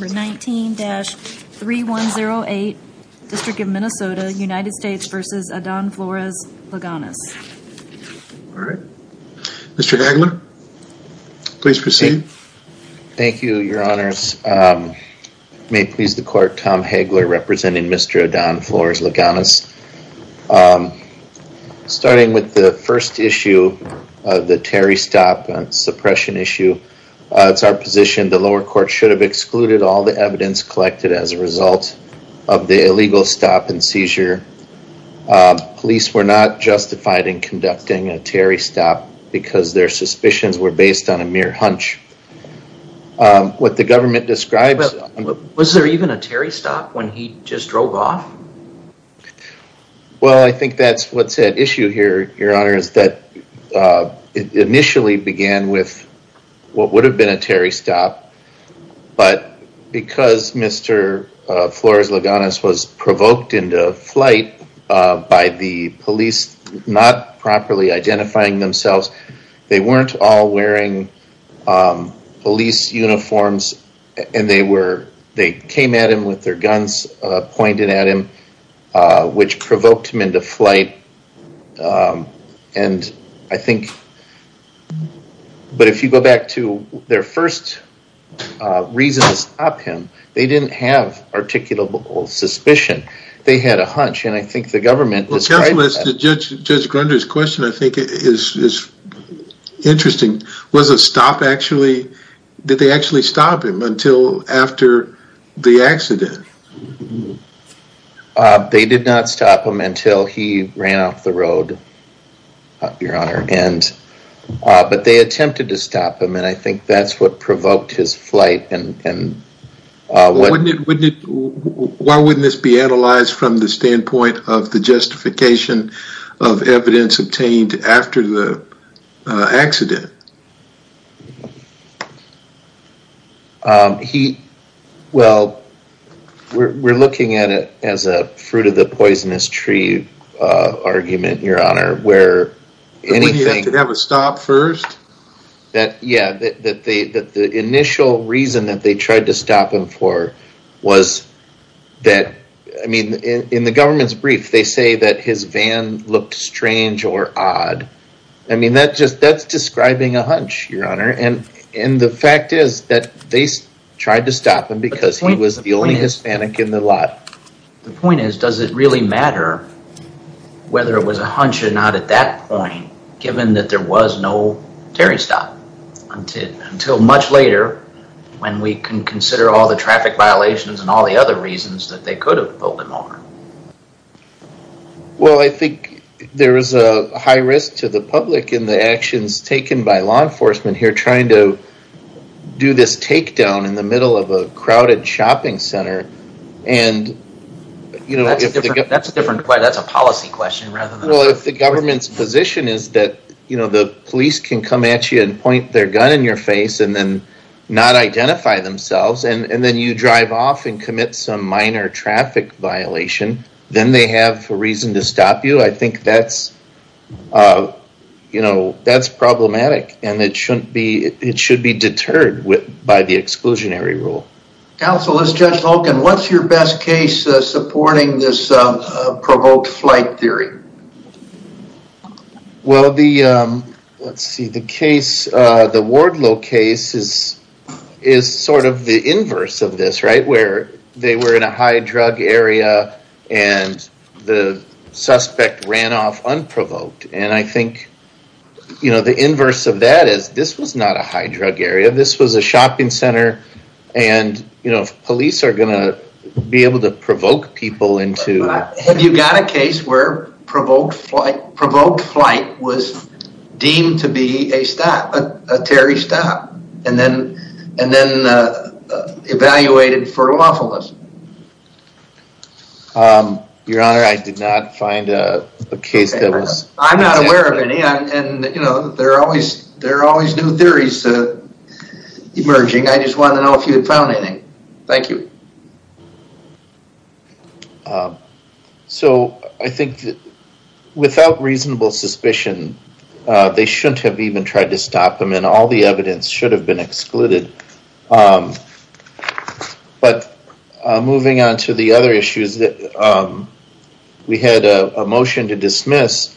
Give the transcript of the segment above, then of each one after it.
Number 19-3108, District of Minnesota, United States v. Adan Flores-Lagonas. Alright, Mr. Hagler, please proceed. Thank you, your honors. May it please the court, Tom Hagler representing Mr. Adan Flores-Lagonas. Starting with the first issue, the Terry Stopp suppression issue, it's our position the lower court should have excluded all the evidence collected as a result of the illegal stop and seizure. Police were not justified in conducting a Terry Stopp because their suspicions were based on a mere hunch. What the government describes- Was there even a Terry Stopp when he just drove off? Well I think that's what's at issue here, your honors, that it initially began with what would have been a Terry Stopp, but because Mr. Flores-Lagonas was provoked into flight by the police not properly identifying themselves, they weren't all wearing police uniforms, and they came at him with their guns pointed at him, which provoked him into flight. But if you go back to their first reason to stop him, they didn't have articulable suspicion. They had a hunch, and I think the government described that- Counsel, as to Judge Grundy's question, I think it is interesting. Was a stop actually, did they actually stop him until after the accident? They did not stop him until he ran off the road, your honor, but they attempted to stop him, and I think that's what provoked his flight. Why wouldn't this be analyzed from the standpoint of the justification of evidence obtained after the accident? Well, we're looking at it as a fruit-of-the-poisonous-tree argument, your honor, where anything- Did he have to have a stop first? Yeah, the initial reason that they tried to stop him for was that- I mean, in the government's brief, they say that his van looked strange or odd. I mean, that's describing a hunch, your honor, and the fact is that they tried to stop him because he was the only Hispanic in the lot. The point is, does it really matter whether it was a hunch or not at that point, given that there was no Terry stop until much later, when we can consider all the traffic violations and all the other reasons that they could have pulled him over? Well, I think there is a high risk to the public in the actions taken by law enforcement here trying to do this takedown in the middle of a crowded shopping center, and- That's a policy question rather than- Well, if the government's position is that the police can come at you and point their gun in your face and then not identify themselves, and then you drive off and commit some minor traffic violation, then they have a reason to stop you. I think that's problematic, and it should be deterred by the exclusionary rule. Counsel, as Judge Holken, what's your best case supporting this provoked flight theory? Well, the Wardlow case is sort of the inverse of this, right? Where they were in a high drug area and the suspect ran off unprovoked, and I think the inverse of that is this was not a high drug area. This was a shopping center, and police are going to be able to provoke people into- Have you got a case where provoked flight was deemed to be a Terry stop, and then evaluated for lawfulness? Your Honor, I did not find a case that was- I'm not aware of any, and there are always new theories emerging. I just wanted to know if you had found anything. Thank you. So I think that without reasonable suspicion, they shouldn't have even tried to stop him, and all the evidence should have been excluded. But moving on to the other issues, we had a motion to dismiss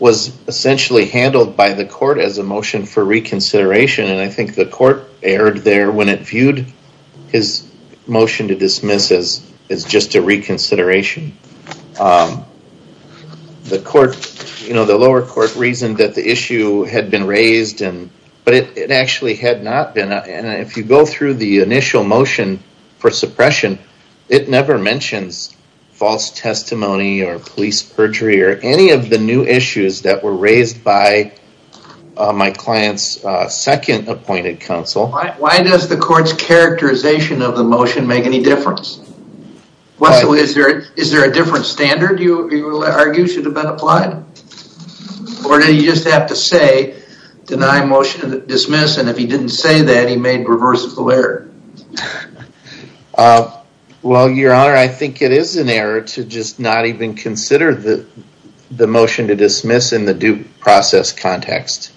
was essentially handled by the court as a motion for reconsideration, and I think the court erred there when it viewed his motion to dismiss as just a reconsideration. The lower court reasoned that the issue had been raised, but it actually had not been. And if you go through the initial motion for suppression, it never mentions false testimony or police perjury or any of the new issues that were raised by my client's second appointed counsel. Why does the court's characterization of the motion make any difference? Is there a different standard you argue should have been applied? Or did he just have to say, deny motion to dismiss, and if he didn't say that, he made reversible error? Well, your honor, I think it is an error to just not even consider the motion to dismiss in the due process context.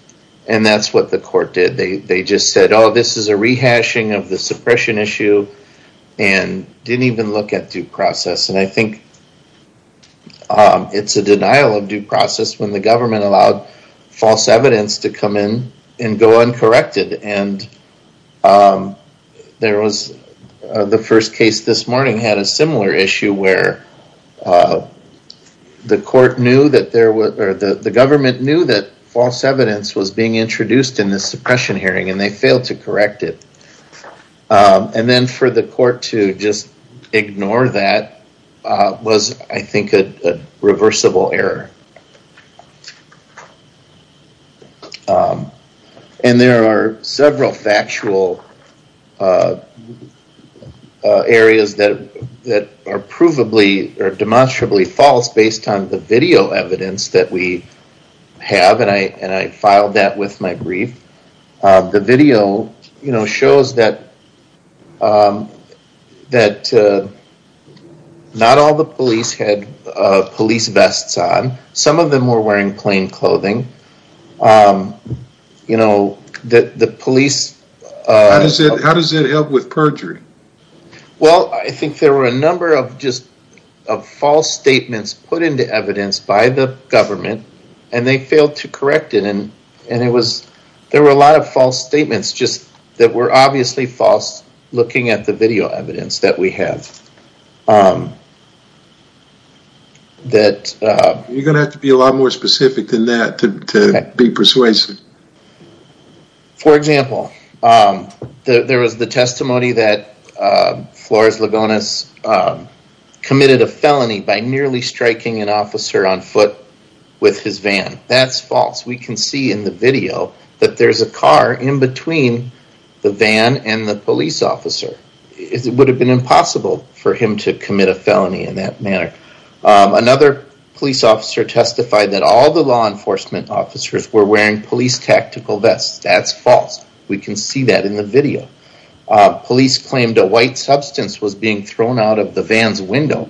And that's what the court did. They just said, oh, this is a rehashing of the suppression issue, and didn't even look at due process. And I think it's a denial of due process when the government allowed false evidence to come in and go uncorrected. And the first case this morning had a similar issue where the government knew that false evidence was being introduced in the suppression hearing, and they failed to correct it. And then for the court to just ignore that was, I think, a reversible error. And there are several factual areas that are provably or demonstrably false based on the video evidence that we have, and I filed that with my brief. The video shows that not all the police had police vests on. Some of them were wearing plain clothing. How does it help with perjury? Well, I think there were a number of just false statements put into evidence by the government, and they failed to correct it. There were a lot of false statements that were obviously false looking at the video evidence that we have. You're going to have to be a lot more specific than that to be persuasive. For example, there was the testimony that Flores Ligonas committed a felony by nearly striking an officer on foot with his van. That's false. We can see in the video that there's a car in between the van and the police officer. It would have been impossible for him to commit a felony in that manner. Another police officer testified that all the law enforcement officers were wearing police tactical vests. That's false. We can see that in the video. Police claimed a white substance was being thrown out of the van's window.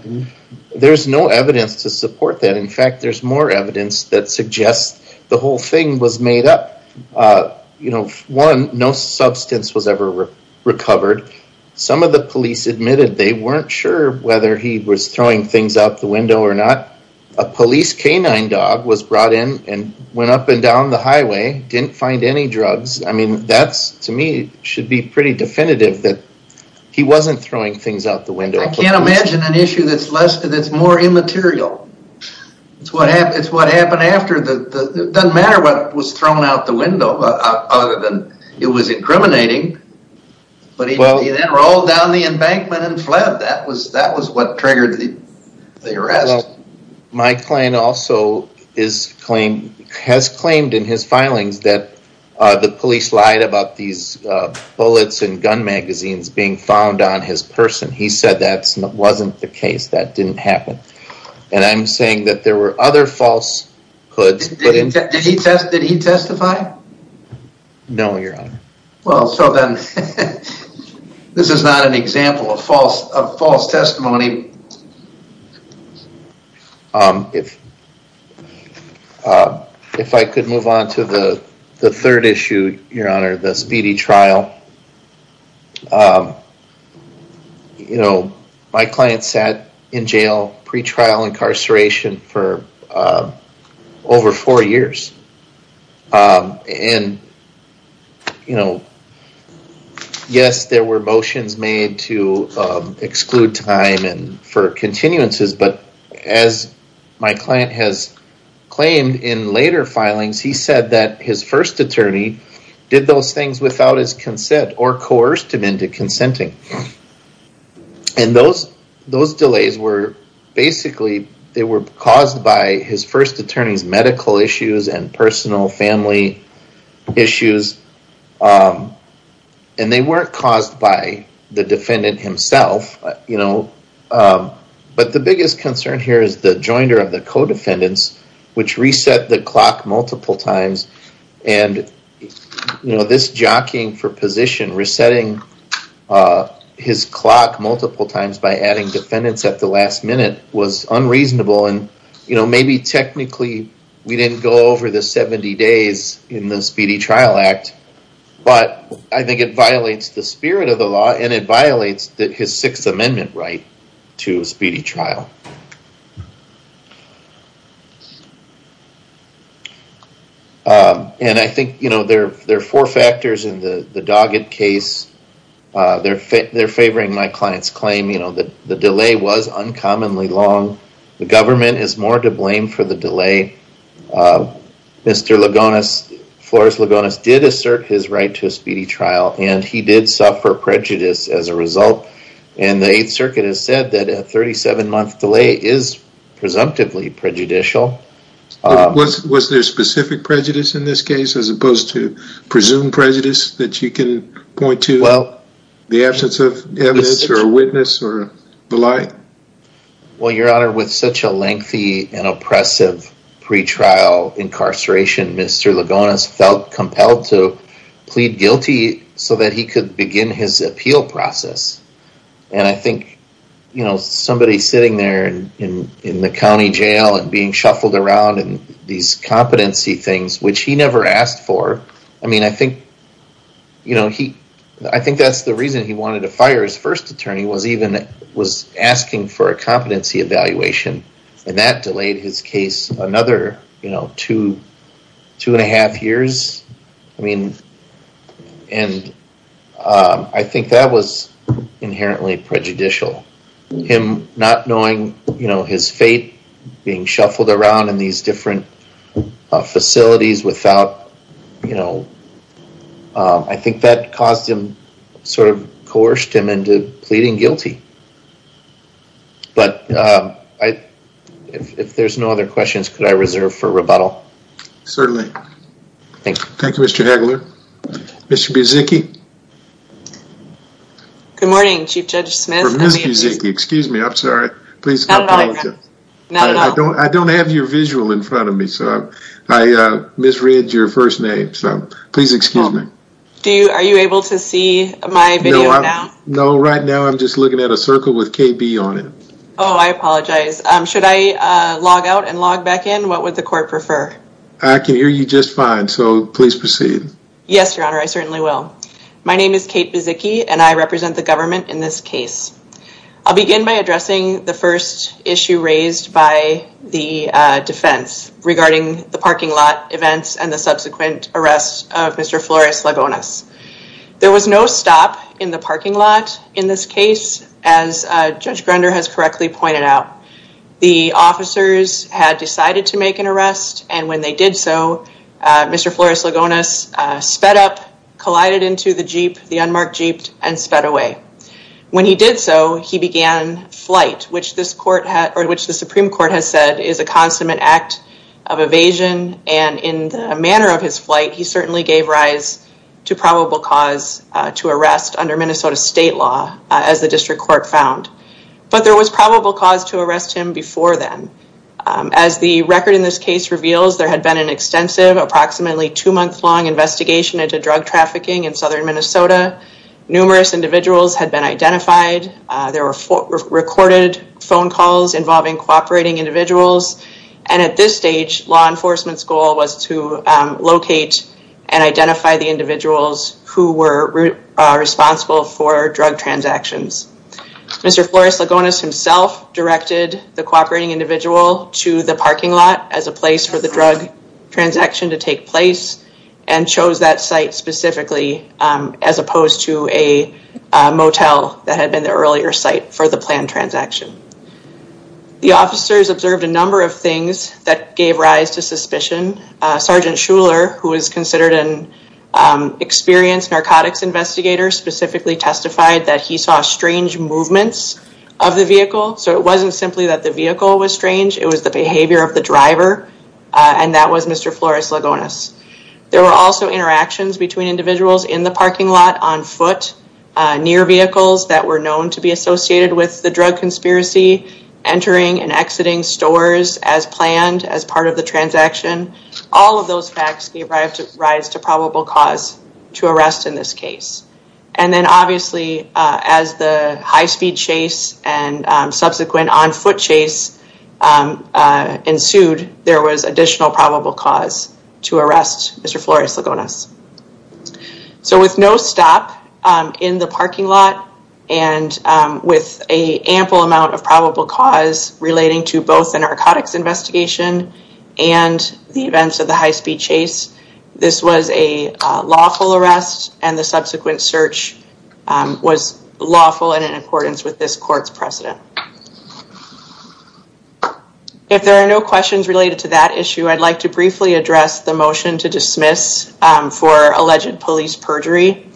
There's no evidence to support that. In fact, there's more evidence that suggests the whole thing was made up. One, no substance was ever recovered. Some of the police admitted they weren't sure whether he was throwing things out the window or not. A police canine dog was brought in and went up and down the highway, didn't find any drugs. I mean, that to me should be pretty definitive that he wasn't throwing things out the window. I can't imagine an issue that's more immaterial. It's what happened after. It doesn't matter what was thrown out the window other than it was incriminating. But he then rolled down the embankment and fled. That was what triggered the arrest. My client also has claimed in his filings that the police lied about these bullets and gun magazines being found on his person. He said that wasn't the case. That didn't happen. And I'm saying that there were other falsehoods. Did he testify? No, your honor. Well, so then this is not an example of false testimony. If I could move on to the third issue, your honor, the speedy trial. You know, my client sat in jail pre-trial incarceration for over four years. And, you know, yes, there were motions made to exclude time and for continuances. But as my client has claimed in later filings, he said that his first attorney did those things without his consent or coerced him into consenting. And those those delays were basically they were caused by his first attorney's medical issues and personal family issues. And they weren't caused by the defendant himself. You know, but the biggest concern here is the joinder of the co-defendants, which reset the clock multiple times. And, you know, this jockeying for position resetting his clock multiple times by adding defendants at the last minute was unreasonable. And, you know, maybe technically we didn't go over the 70 days in the Speedy Trial Act. But I think it violates the spirit of the law and it violates his Sixth Amendment right to a speedy trial. And I think, you know, there are four factors in the Doggett case. They're favoring my client's claim, you know, that the delay was uncommonly long. The government is more to blame for the delay. Mr. Ligonis, Flores Ligonis did assert his right to a speedy trial and he did suffer prejudice as a result. And the 8th Circuit has said that a 37 month delay is presumptively prejudicial. Was there specific prejudice in this case as opposed to presumed prejudice that you can point to? Well, the absence of evidence or a witness or the lie? Well, Your Honor, with such a lengthy and oppressive pretrial incarceration, Mr. Ligonis felt compelled to plead guilty so that he could begin his appeal process. And I think, you know, somebody sitting there in the county jail and being shuffled around and these competency things, which he never asked for. I mean, I think, you know, he I think that's the reason he wanted to fire his first attorney was even was asking for a competency evaluation. And that delayed his case another two, two and a half years. I mean, and I think that was inherently prejudicial. Him not knowing, you know, his fate, being shuffled around in these different facilities without, you know, I think that caused him sort of coerced him into pleading guilty. But if there's no other questions, could I reserve for rebuttal? Certainly. Thank you, Mr. Hagler. Mr. Buzicki. Good morning, Chief Judge Smith. Ms. Buzicki. Excuse me. I'm sorry. Please. I don't I don't have your visual in front of me. So I misread your first name. So please excuse me. Do you are you able to see my video now? No, right now I'm just looking at a circle with KB on it. Oh, I apologize. Should I log out and log back in? What would the court prefer? I can hear you just fine. So please proceed. Yes, Your Honor. I certainly will. My name is Kate Buzicki, and I represent the government in this case. I'll begin by addressing the first issue raised by the defense regarding the parking lot events and the subsequent arrest of Mr. Flores-Lagones. There was no stop in the parking lot in this case, as Judge Grunder has correctly pointed out. The officers had decided to make an arrest, and when they did so, Mr. Flores-Lagones sped up, collided into the jeep, the unmarked jeep, and sped away. When he did so, he began flight, which the Supreme Court has said is a consummate act of evasion. And in the manner of his flight, he certainly gave rise to probable cause to arrest under Minnesota state law, as the district court found. But there was probable cause to arrest him before then. As the record in this case reveals, there had been an extensive, approximately two-month-long investigation into drug trafficking in southern Minnesota. Numerous individuals had been identified. There were recorded phone calls involving cooperating individuals. And at this stage, law enforcement's goal was to locate and identify the individuals who were responsible for drug transactions. Mr. Flores-Lagones himself directed the cooperating individual to the parking lot as a place for the drug transaction to take place, and chose that site specifically as opposed to a motel that had been the earlier site for the planned transaction. The officers observed a number of things that gave rise to suspicion. Sergeant Shuler, who is considered an experienced narcotics investigator, specifically testified that he saw strange movements of the vehicle. So it wasn't simply that the vehicle was strange, it was the behavior of the driver, and that was Mr. Flores-Lagones. There were also interactions between individuals in the parking lot, on foot, near vehicles that were known to be associated with the drug conspiracy, entering and exiting stores as planned as part of the transaction. All of those facts gave rise to probable cause to arrest in this case. And then obviously, as the high-speed chase and subsequent on-foot chase ensued, there was additional probable cause to arrest Mr. Flores-Lagones. So with no stop in the parking lot, and with an ample amount of probable cause relating to both the narcotics investigation and the events of the high-speed chase, this was a lawful arrest, and the subsequent search was lawful and in accordance with this court's precedent. If there are no questions related to that issue, I'd like to briefly address the motion to dismiss for alleged police perjury.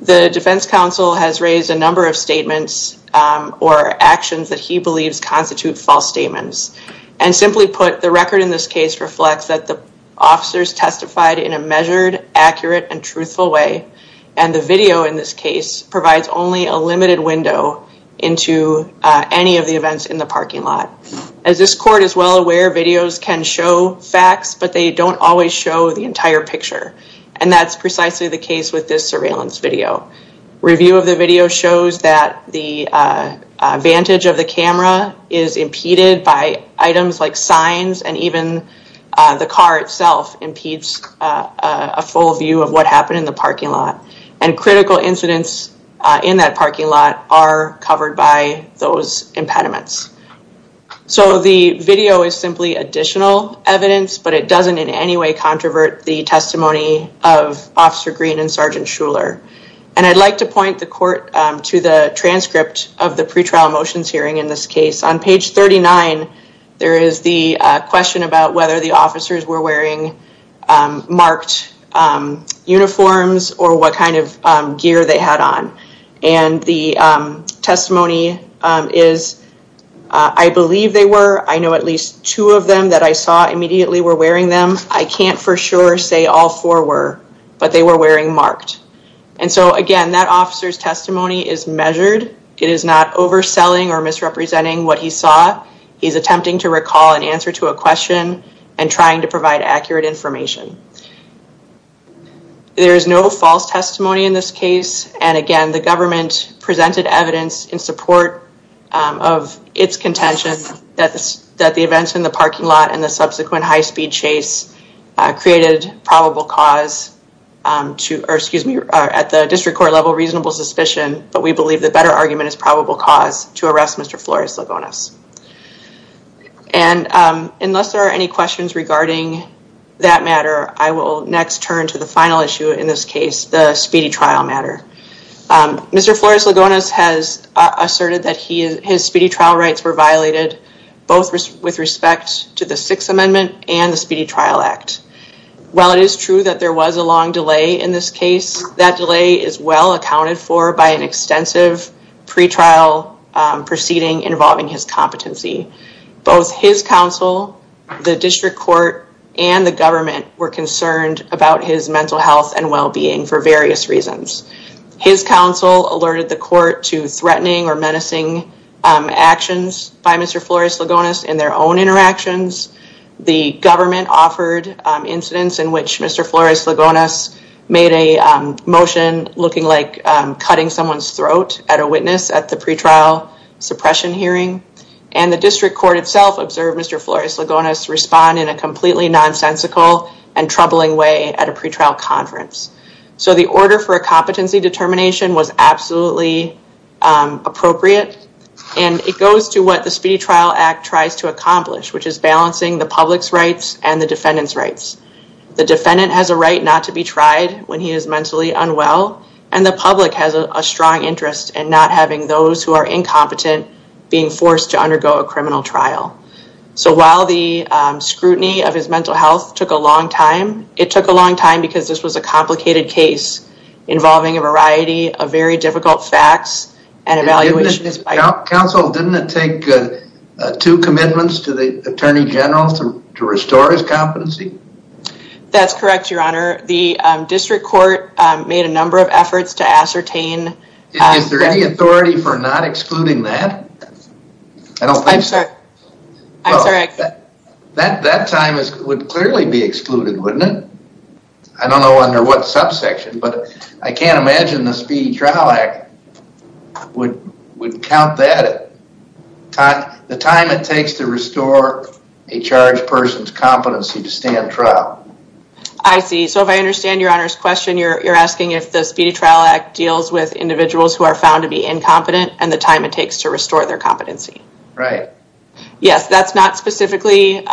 The defense counsel has raised a number of statements or actions that he believes constitute false statements. And simply put, the record in this case reflects that the officers testified in a measured, accurate, and truthful way, and the video in this case provides only a limited window into any of the events in the parking lot. As this court is well aware, videos can show facts, but they don't always show the entire picture. And that's precisely the case with this surveillance video. Review of the video shows that the vantage of the camera is impeded by items like signs, and even the car itself impedes a full view of what happened in the parking lot. And critical incidents in that parking lot are covered by those impediments. So the video is simply additional evidence, but it doesn't in any way controvert the testimony of Officer Green and Sergeant Shuler. And I'd like to point the court to the transcript of the pretrial motions hearing in this case. On page 39, there is the question about whether the officers were wearing marked uniforms or what kind of gear they had on. And the testimony is, I believe they were. I know at least two of them that I saw immediately were wearing them. I can't for sure say all four were, but they were wearing marked. And so again, that officer's testimony is measured. It is not overselling or misrepresenting what he saw. He's attempting to recall an answer to a question and trying to provide accurate information. There is no false testimony in this case. And again, the government presented evidence in support of its contention that the events in the parking lot and the subsequent high-speed chase created probable cause to, or excuse me, at the district court level, reasonable suspicion. But we believe the better argument is probable cause to arrest Mr. Flores-Lagones. And unless there are any questions regarding that matter, I will next turn to the final issue in this case, the speedy trial matter. Mr. Flores-Lagones has asserted that his speedy trial rights were violated, both with respect to the Sixth Amendment and the Speedy Trial Act. While it is true that there was a long delay in this case, that delay is well accounted for by an extensive pretrial proceeding involving his competency. Both his counsel, the district court, and the government were concerned about his mental health and well-being for various reasons. His counsel alerted the court to threatening or menacing actions by Mr. Flores-Lagones in their own interactions. The government offered incidents in which Mr. Flores-Lagones made a motion looking like cutting someone's throat at a witness at the pretrial suppression hearing. And the district court itself observed Mr. Flores-Lagones respond in a completely nonsensical and troubling way at a pretrial conference. So the order for a competency determination was absolutely appropriate. And it goes to what the Speedy Trial Act tries to accomplish, which is balancing the public's rights and the defendant's rights. The defendant has a right not to be tried when he is mentally unwell, and the public has a strong interest in not having those who are incompetent being forced to undergo a criminal trial. So while the scrutiny of his mental health took a long time, it took a long time because this was a complicated case involving a variety of very difficult facts and evaluation. Counsel, didn't it take two commitments to the Attorney General to restore his competency? That's correct, Your Honor. The district court made a number of efforts to ascertain. Is there any authority for not excluding that? I'm sorry. That time would clearly be excluded, wouldn't it? I don't know under what subsection, but I can't imagine the Speedy Trial Act would count that, the time it takes to restore a charged person's competency to stand trial. I see. So if I understand Your Honor's question, you're asking if the Speedy Trial Act deals with individuals who are found to be incompetent and the time it takes to restore their competency. Right. Yes, that's not specifically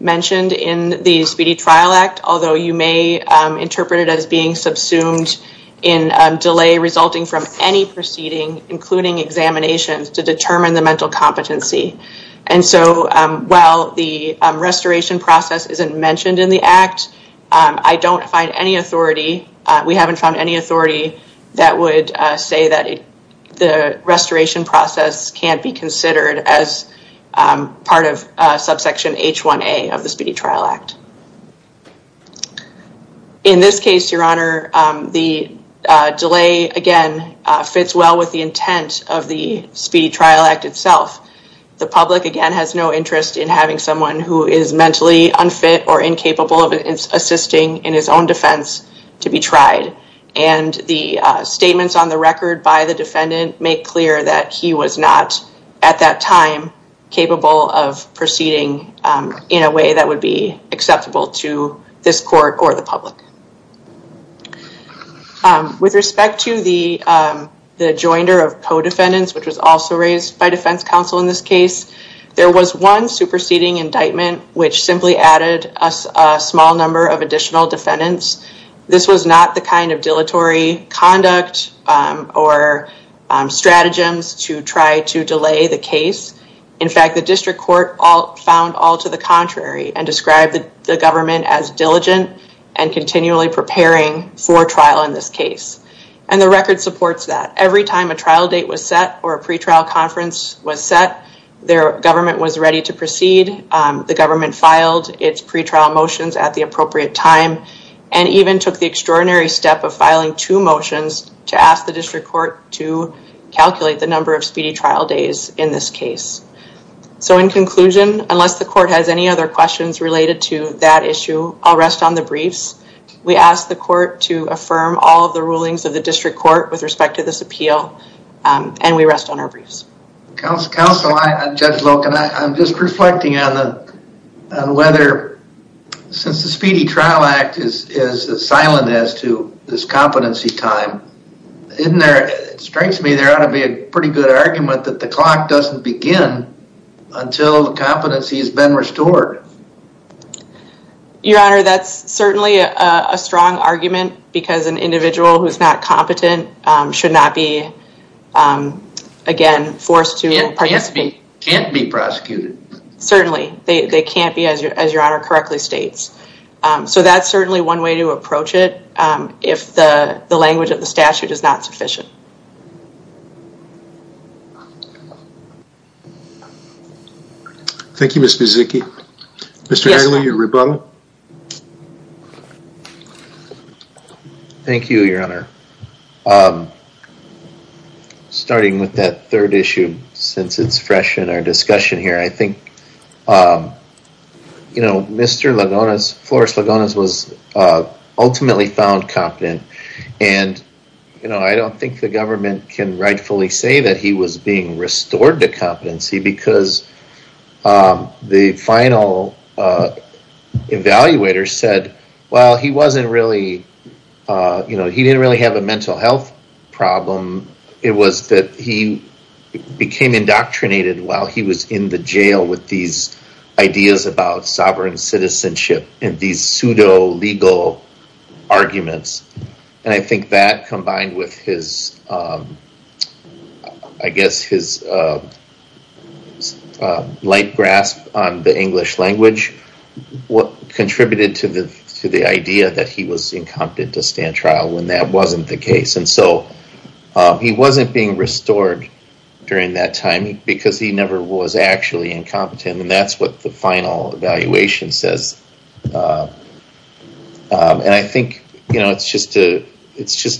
mentioned in the Speedy Trial Act, although you may interpret it as being subsumed in delay resulting from any proceeding, including examinations to determine the mental competency. And so while the restoration process isn't mentioned in the act, I don't find any authority. We haven't found any authority that would say that the restoration process can't be considered as part of subsection H1A of the Speedy Trial Act. In this case, Your Honor, the delay, again, fits well with the intent of the Speedy Trial Act itself. The public, again, has no interest in having someone who is mentally unfit or incapable of assisting in his own defense to be tried. And the statements on the record by the defendant make clear that he was not at that time capable of proceeding in a way that would be acceptable to this court or the public. With respect to the joinder of co-defendants, which was also raised by defense counsel in this case, there was one superseding indictment which simply added a small number of additional defendants. This was not the kind of dilatory conduct or stratagems to try to delay the case. In fact, the district court found all to the contrary and described the government as diligent and continually preparing for trial in this case. And the record supports that. Every time a trial date was set or a pretrial conference was set, the government was ready to proceed. The government filed its pretrial motions at the appropriate time and even took the extraordinary step of filing two motions to ask the district court to calculate the number of speedy trial days in this case. So in conclusion, unless the court has any other questions related to that issue, I'll rest on the briefs. We ask the court to affirm all of the rulings of the district court with respect to this appeal and we rest on our briefs. Counsel, I'm Judge Loken. I'm just reflecting on whether since the Speedy Trial Act is silent as to this competency time, it strikes me there ought to be a pretty good argument that the clock doesn't begin until the competency has been restored. Your Honor, that's certainly a strong argument because an individual who is not competent should not be, again, forced to participate. They can't be prosecuted. Certainly, they can't be as Your Honor correctly states. So that's certainly one way to approach it if the language of the statute is not sufficient. Thank you, Mr. Zicke. Mr. Agnew, your rebuttal. Thank you, Your Honor. Starting with that third issue, since it's fresh in our discussion here, I think, you know, Mr. Lagones, Flores Lagones was ultimately found competent. And, you know, I don't think the government can rightfully say that he was being restored to competency because the final evaluator said, well, he wasn't really, you know, he didn't really have a mental health problem. It was that he became indoctrinated while he was in the jail with these ideas about sovereign citizenship and these pseudo legal arguments. And I think that combined with his, I guess, his light grasp on the English language contributed to the idea that he was incompetent to stand trial when that wasn't the case. And so he wasn't being restored during that time because he never was actually incompetent. And that's what the final evaluation says. And I think, you know, it's just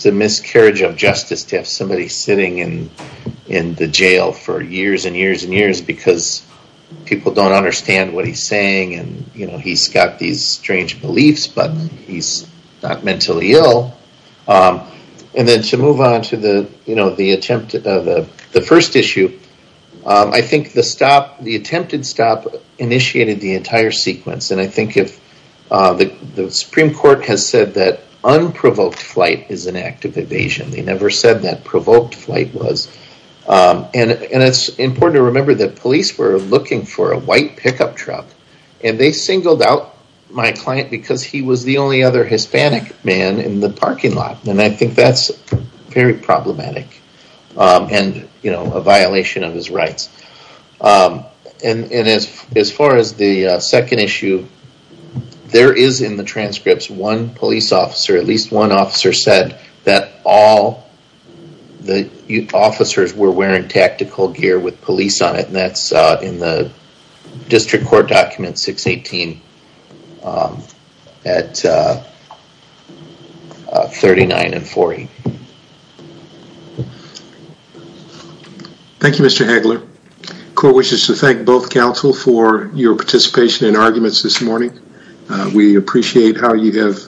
a miscarriage of justice to have somebody sitting in the jail for years and years and years because people don't understand what he's saying. And, you know, he's got these strange beliefs, but he's not mentally ill. And then to move on to the, you know, the attempt of the first issue, I think the stop, the attempted stop initiated the entire sequence. And I think if the Supreme Court has said that unprovoked flight is an act of evasion, they never said that provoked flight was. And it's important to remember that police were looking for a white pickup truck and they singled out my client because he was the only other Hispanic man in the parking lot. And I think that's very problematic and, you know, a violation of his rights. And as far as the second issue, there is in the transcripts one police officer, at least one officer said that all the officers were wearing tactical gear with police on it. And that's in the district court document 618 at 39 and 40. Thank you, Mr. Hagler. Court wishes to thank both counsel for your participation in arguments this morning. We appreciate how you have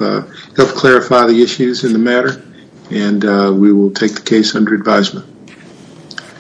helped clarify the issues in the matter, and we will take the case under advisement.